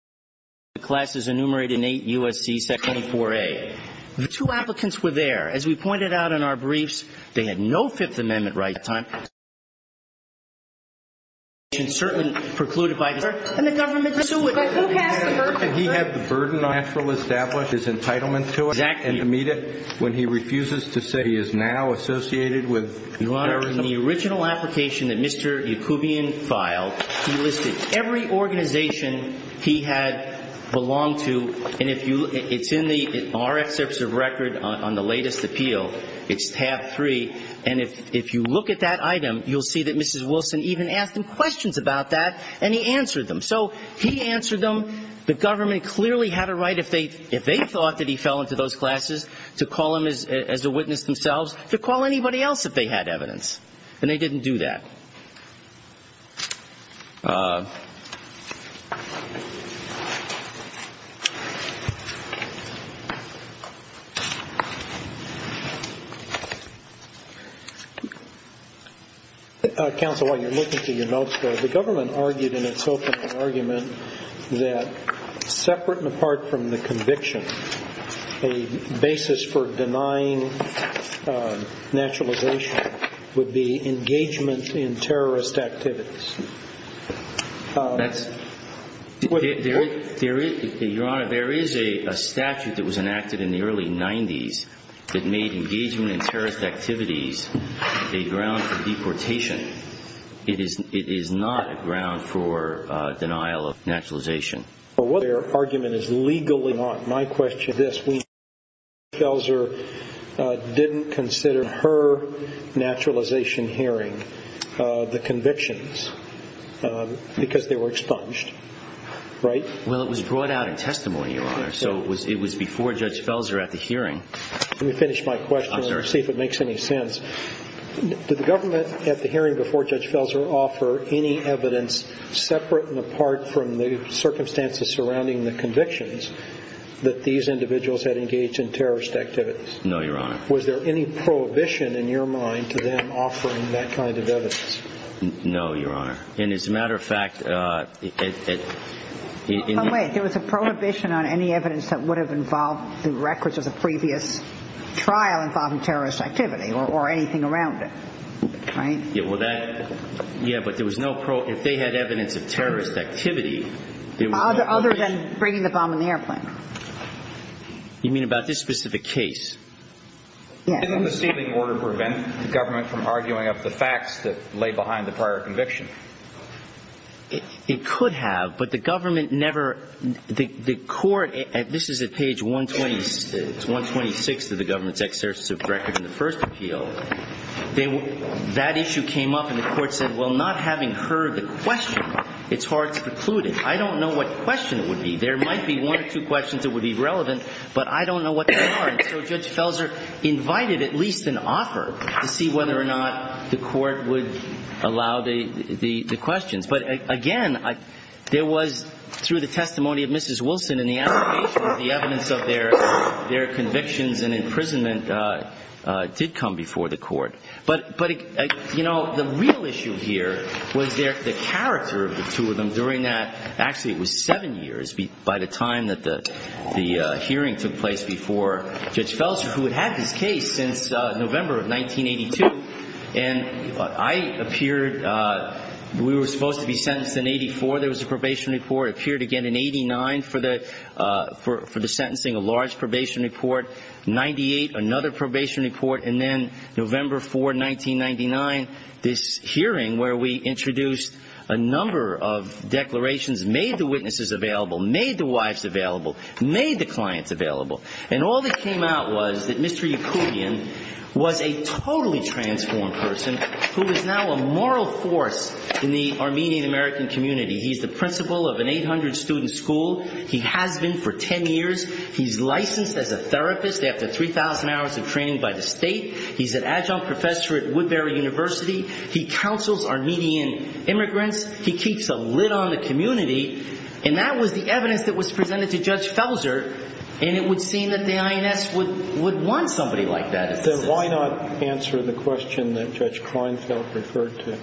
– classes enumerated in 8 U.S.C. 24a. The two applicants were there. As we pointed out in our briefs, they had no Fifth Amendment right at the time –– and certainly precluded by –– and the government –– and he had the burden –– natural establishment –– his entitlement to it. Exactly. And to meet it when he refuses to say he is now associated with –– Your Honor, in the original application that Mr. Yacoubian filed, he listed every organization he had belonged to, and if you –– it's in the –– our excerpts of record on the latest appeal. It's tab three. And if you look at that item, you'll see that Mrs. Wilson even asked him questions about that, and he answered them. So, he answered them. The government clearly had a right, if they –– if they thought that he fell into those classes, to call him as a witness themselves, to call anybody else if they had evidence. And they didn't do that. Counsel, while you're looking through your notes there, the government argued in its opening argument that, separate and apart from the conviction, a basis for denying naturalization would be engagement in terrorist activities. There is – Your Honor, there is a statute that was enacted in the early 90s that made engagement in terrorist activities a ground for deportation. It is not a ground for denial of naturalization. Well, what their argument is legally not. My question is this. We –– Felser didn't consider her naturalization hearing the convictions because they were expunged, right? Well, it was brought out in testimony, Your Honor. So, it was before Judge Felser at the hearing. Let me finish my question. I'm sorry. See if it makes any sense. Did the government, at the hearing before Judge Felser, offer any evidence separate and apart from the circumstances surrounding the convictions that these individuals had engaged in terrorist activities? No, Your Honor. Was there any prohibition in your mind to them offering that kind of evidence? No, Your Honor. And as a matter of fact, it – Oh, wait. There was a prohibition on any evidence that would have involved the records of the previous trial involving terrorist activity or anything around it, right? Yeah, well, that – Yeah, but there was no – If they had evidence of terrorist activity – Other than bringing the bomb in the airplane. You mean about this specific case? Yes. Didn't the ceiling order prevent the government from arguing up the facts that lay behind the prior conviction? It could have, but the government never – The court – This is at page 120 – It's 126 of the government's exercise of records in the first appeal. So that issue came up and the court said, well, not having heard the question, it's hard to preclude it. I don't know what question it would be. There might be one or two questions that would be relevant, but I don't know what they are. And so Judge Felser invited at least an offer to see whether or not the court would allow the questions. But, again, there was, through the testimony of Mrs. Wilson and the evidence of their convictions and imprisonment did come before the court. But, you know, the real issue here was the character of the two of them during that – actually, it was seven years by the time that the hearing took place before Judge Felser, who had had this case since November of 1982. And I appeared – we were supposed to be sentenced in 84. There was a probation report. I appeared again in 89 for the sentencing, a large probation report. 98, another probation report. And then November 4, 1999, this hearing where we introduced a number of declarations, made the witnesses available, made the wives available, made the clients available. And all that came out was that Mr. Yakubian was a totally transformed person who was now a moral force in the Armenian-American community. He's the principal of an 800-student school. He has been for 10 years. He's licensed as a therapist after 3,000 hours of training by the state. He's an adjunct professor at Woodbury University. He counsels Armenian immigrants. He keeps a lid on the community. And that was the evidence that was presented to Judge Felser, and it would seem that the INS would want somebody like that. Then why not answer the question that Judge Kleinfeld referred to?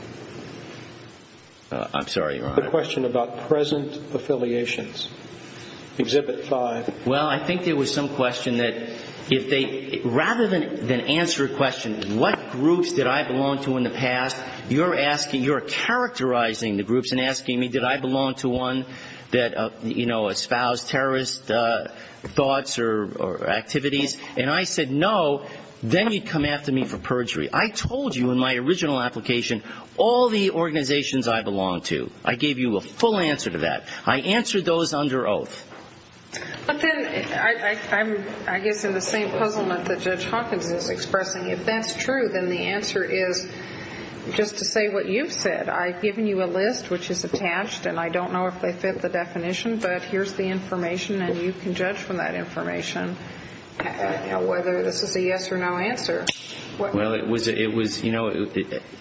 I'm sorry, Your Honor. Another question about present affiliations. Exhibit 5. Well, I think there was some question that if they rather than answer a question, what groups did I belong to in the past, you're asking, you're characterizing the groups and asking me did I belong to one that, you know, espoused terrorist thoughts or activities. And I said no. Then you come after me for perjury. I told you in my original application all the organizations I belonged to. I gave you a full answer to that. I answered those under oath. But then I'm, I guess, in the same puzzlement that Judge Hawkins is expressing. If that's true, then the answer is just to say what you've said. I've given you a list which is attached, and I don't know if they fit the definition, but here's the information, and you can judge from that information whether this is a yes or no answer. Well, it was, you know,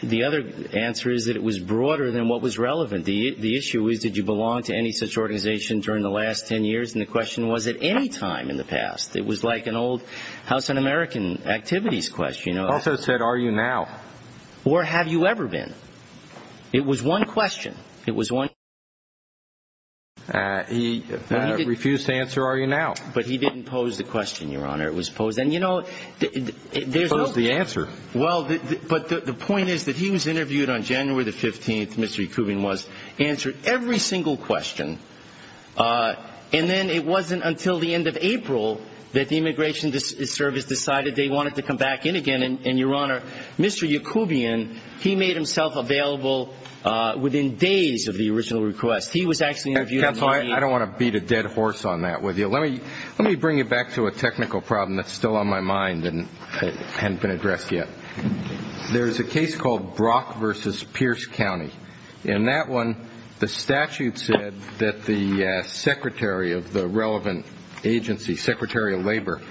the other answer is that it was broader than what was relevant. The issue is did you belong to any such organization during the last ten years, and the question was at any time in the past. It was like an old House of American activities question. He also said are you now. Or have you ever been. It was one question. It was one. He refused to answer are you now. But he didn't pose the question, Your Honor. It was posed. And, you know, there's no. He posed the answer. Well, but the point is that he was interviewed on January the 15th, Mr. Yakubian was, answered every single question. And then it wasn't until the end of April that the Immigration Service decided they wanted to come back in again. And, Your Honor, Mr. Yakubian, he made himself available within days of the original request. He was actually interviewed. Counsel, I don't want to beat a dead horse on that with you. Let me bring you back to a technical problem that's still on my mind and hasn't been addressed yet. There's a case called Brock v. Pierce County. In that one, the statute said that the secretary of the relevant agency, Secretary of Labor,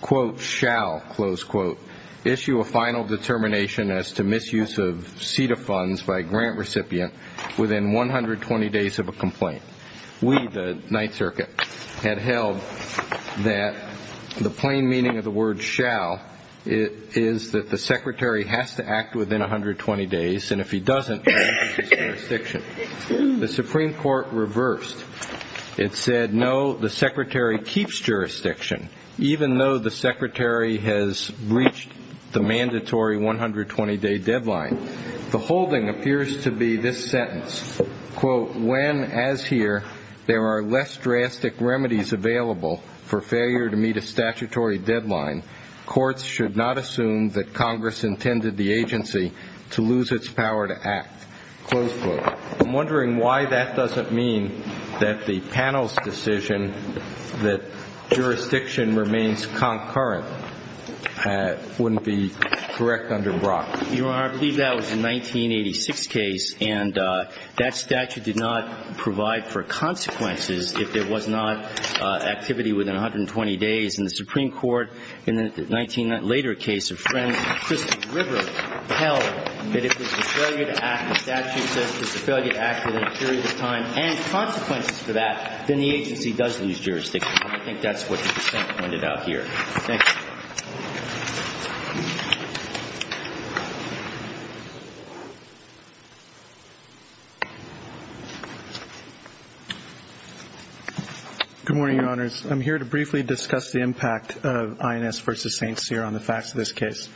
quote, shall, close quote, issue a final determination as to misuse of CETA funds by a grant recipient within 120 days of a complaint. We, the Ninth Circuit, had held that the plain meaning of the word shall is that the secretary has to act within 120 days. And if he doesn't, he loses jurisdiction. The Supreme Court reversed. It said, no, the secretary keeps jurisdiction even though the secretary has reached the mandatory 120-day deadline. The holding appears to be this sentence, quote, when, as here, there are less drastic remedies available for failure to meet a statutory deadline, courts should not assume that Congress intended the agency to lose its power to act, close quote. I'm wondering why that doesn't mean that the panel's decision that jurisdiction remains concurrent wouldn't be correct under Brock. You're right. I believe that was a 1986 case, and that statute did not provide for consequences if there was not activity within 120 days. And the Supreme Court, in the 19 later case, a friend, Christopher River, held that if there's a failure to act, the statute says there's a failure to act within a period of time, and consequences for that, then the agency does lose jurisdiction. I think that's what the defense pointed out here. Thank you. Good morning, Your Honors. I'm here to briefly discuss the impact of INS v. St. Cyr on the facts of this case.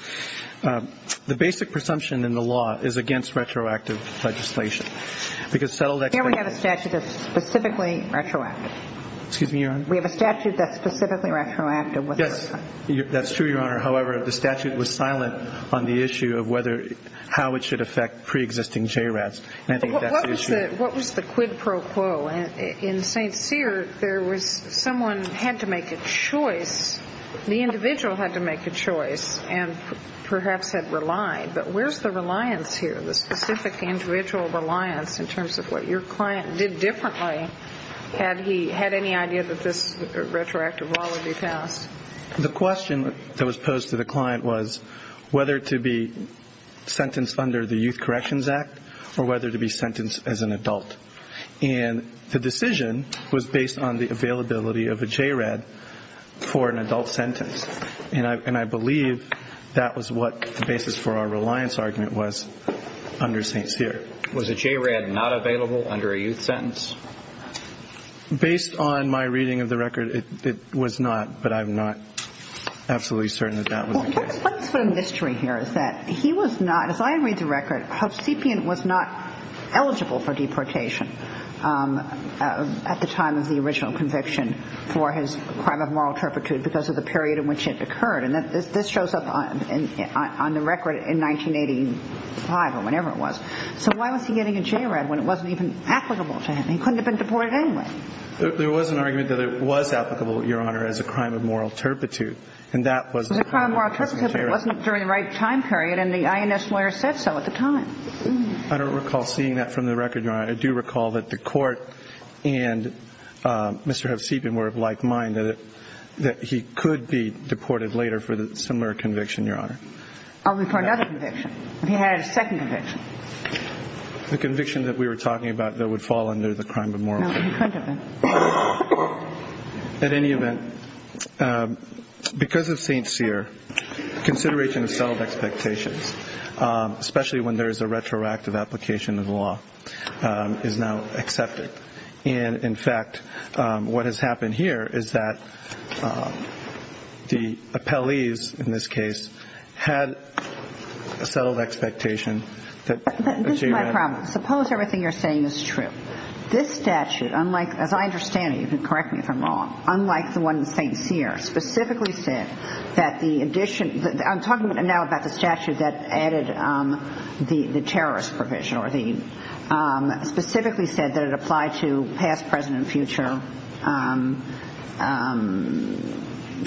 The basic presumption in the law is against retroactive legislation because settled experts Here we have a statute that's specifically retroactive. Excuse me, Your Honor. We have a statute that's specifically retroactive. Yes, that's true, Your Honor. How it should affect preexisting JRATs, and I think that's the issue. What was the quid pro quo? In St. Cyr, there was someone had to make a choice. The individual had to make a choice and perhaps had relied. But where's the reliance here, the specific individual reliance in terms of what your client did differently? Had he had any idea that this retroactive law would be passed? The question that was posed to the client was whether to be sentenced under the Youth Corrections Act or whether to be sentenced as an adult. And the decision was based on the availability of a JRAT for an adult sentence. And I believe that was what the basis for our reliance argument was under St. Cyr. Was a JRAT not available under a youth sentence? Based on my reading of the record, it was not, but I'm not absolutely certain that that was the case. Well, what's the mystery here is that he was not, as I read the record, Hovsepian was not eligible for deportation at the time of the original conviction for his crime of moral turpitude because of the period in which it occurred. And this shows up on the record in 1985 or whenever it was. So why was he getting a JRAT when it wasn't even applicable to him? He couldn't have been deported anyway. There was an argument that it was applicable, Your Honor, as a crime of moral turpitude. And that was the crime of moral turpitude, but it wasn't during the right time period, and the INS lawyer said so at the time. I don't recall seeing that from the record, Your Honor. I do recall that the court and Mr. Hovsepian were of like mind, that he could be deported later for the similar conviction, Your Honor. I'll refer to another conviction. He had a second conviction. The conviction that we were talking about that would fall under the crime of moral turpitude. No, he couldn't have been. At any event, because of St. Cyr, consideration of self-expectations, especially when there is a retroactive application of the law, is now accepted. And, in fact, what has happened here is that the appellees, in this case, had a settled expectation that a JRAT. But this is my problem. Suppose everything you're saying is true. This statute, unlike, as I understand it, you can correct me if I'm wrong, unlike the one that St. Cyr specifically said that the addition, I'm talking now about the statute that added the terrorist provision, specifically said that it applied to past, present, and future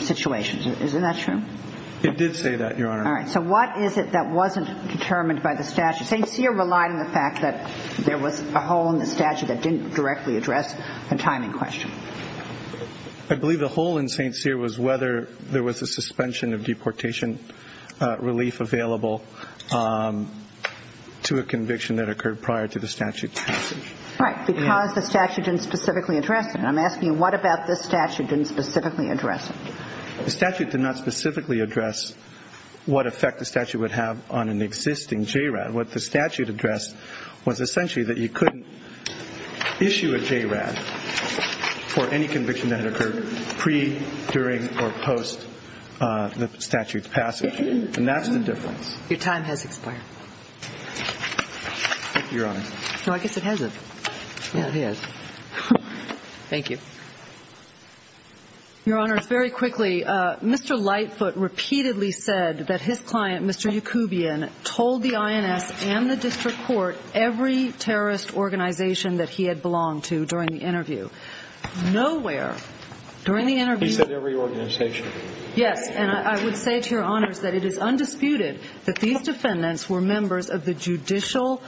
situations. Isn't that true? It did say that, Your Honor. All right. So what is it that wasn't determined by the statute? St. Cyr relied on the fact that there was a hole in the statute that didn't directly address the timing question. I believe the hole in St. Cyr was whether there was a suspension of deportation relief available to a conviction that occurred prior to the statute's passage. Right. Because the statute didn't specifically address it. I'm asking you, what about this statute didn't specifically address it? The statute did not specifically address what effect the statute would have on an existing JRAT. What the statute addressed was essentially that you couldn't issue a JRAT for any conviction that had occurred pre, during, or post the statute's passage. And that's the difference. Your time has expired. Thank you, Your Honor. No, I guess it hasn't. Yeah, it has. Thank you. Your Honor, very quickly, Mr. Lightfoot repeatedly said that his client, Mr. Yacoubian, told the INS and the district court every terrorist organization that he had belonged to during the interview. Nowhere during the interview. He said every organization. Yes, and I would say to Your Honors that it is undisputed that these defendants were members of the judicial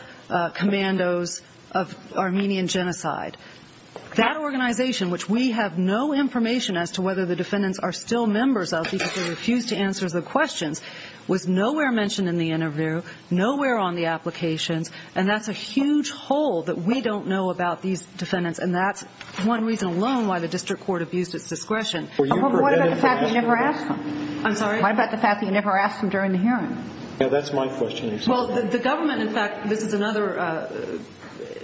commandos of Armenian Genocide. That organization, which we have no information as to whether the defendants are still members of because they refused to answer the questions, was nowhere mentioned in the interview, nowhere on the applications, and that's a huge hole that we don't know about these defendants, and that's one reason alone why the district court abused its discretion. Well, what about the fact that you never asked them? I'm sorry? What about the fact that you never asked them during the hearing? Yeah, that's my question, Your Honor. Well, the government, in fact, this is another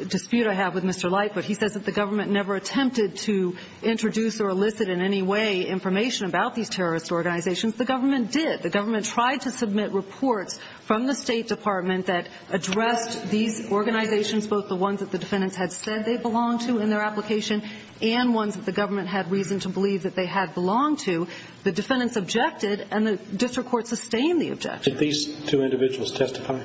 dispute I have with Mr. Lightfoot. He says that the government never attempted to introduce or elicit in any way information about these terrorist organizations. The government did. The government tried to submit reports from the State Department that addressed these organizations, both the ones that the defendants had said they belonged to in their application and ones that the government had reason to believe that they had belonged to. The defendants objected, and the district court sustained the objection. Did these two individuals testify?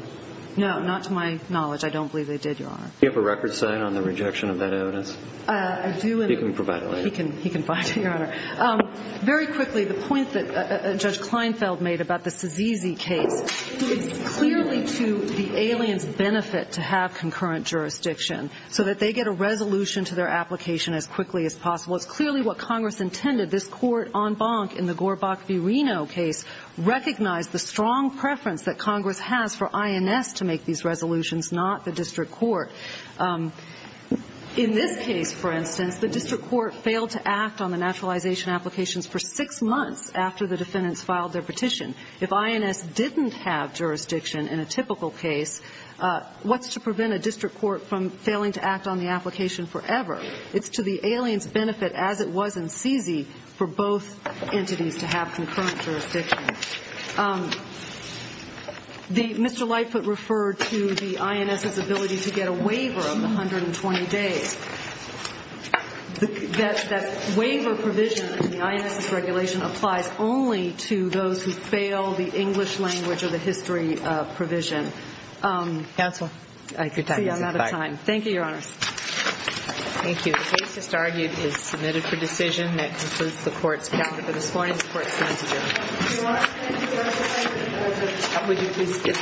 No, not to my knowledge. I don't believe they did, Your Honor. Do you have a record sign on the rejection of that evidence? I do. He can provide it later. He can provide it, Your Honor. Very quickly, the point that Judge Kleinfeld made about the Sazizi case, it's clearly to the alien's benefit to have concurrent jurisdiction so that they get a resolution to their application as quickly as possible. It's clearly what Congress intended. This court, en banc in the Gorbach v. Reno case, recognized the strong preference that Congress has for INS to make these resolutions, not the district court. In this case, for instance, the district court failed to act on the naturalization applications for six months after the defendants filed their petition. If INS didn't have jurisdiction in a typical case, what's to prevent a district court from failing to act on the application forever? It's to the alien's benefit, as it was in Sazizi, for both entities to have concurrent jurisdiction. Mr. Lightfoot referred to the INS's ability to get a waiver of 120 days. That waiver provision in the INS's regulation applies only to those who fail the English language or the history provision. Counsel. See, I'm out of time. Thank you, Your Honor. Thank you. The case just argued is submitted for decision. That concludes the court's calendar for this morning. The court stands adjourned. If you want to say anything, would you please skip to the next one? You can skip to the next one.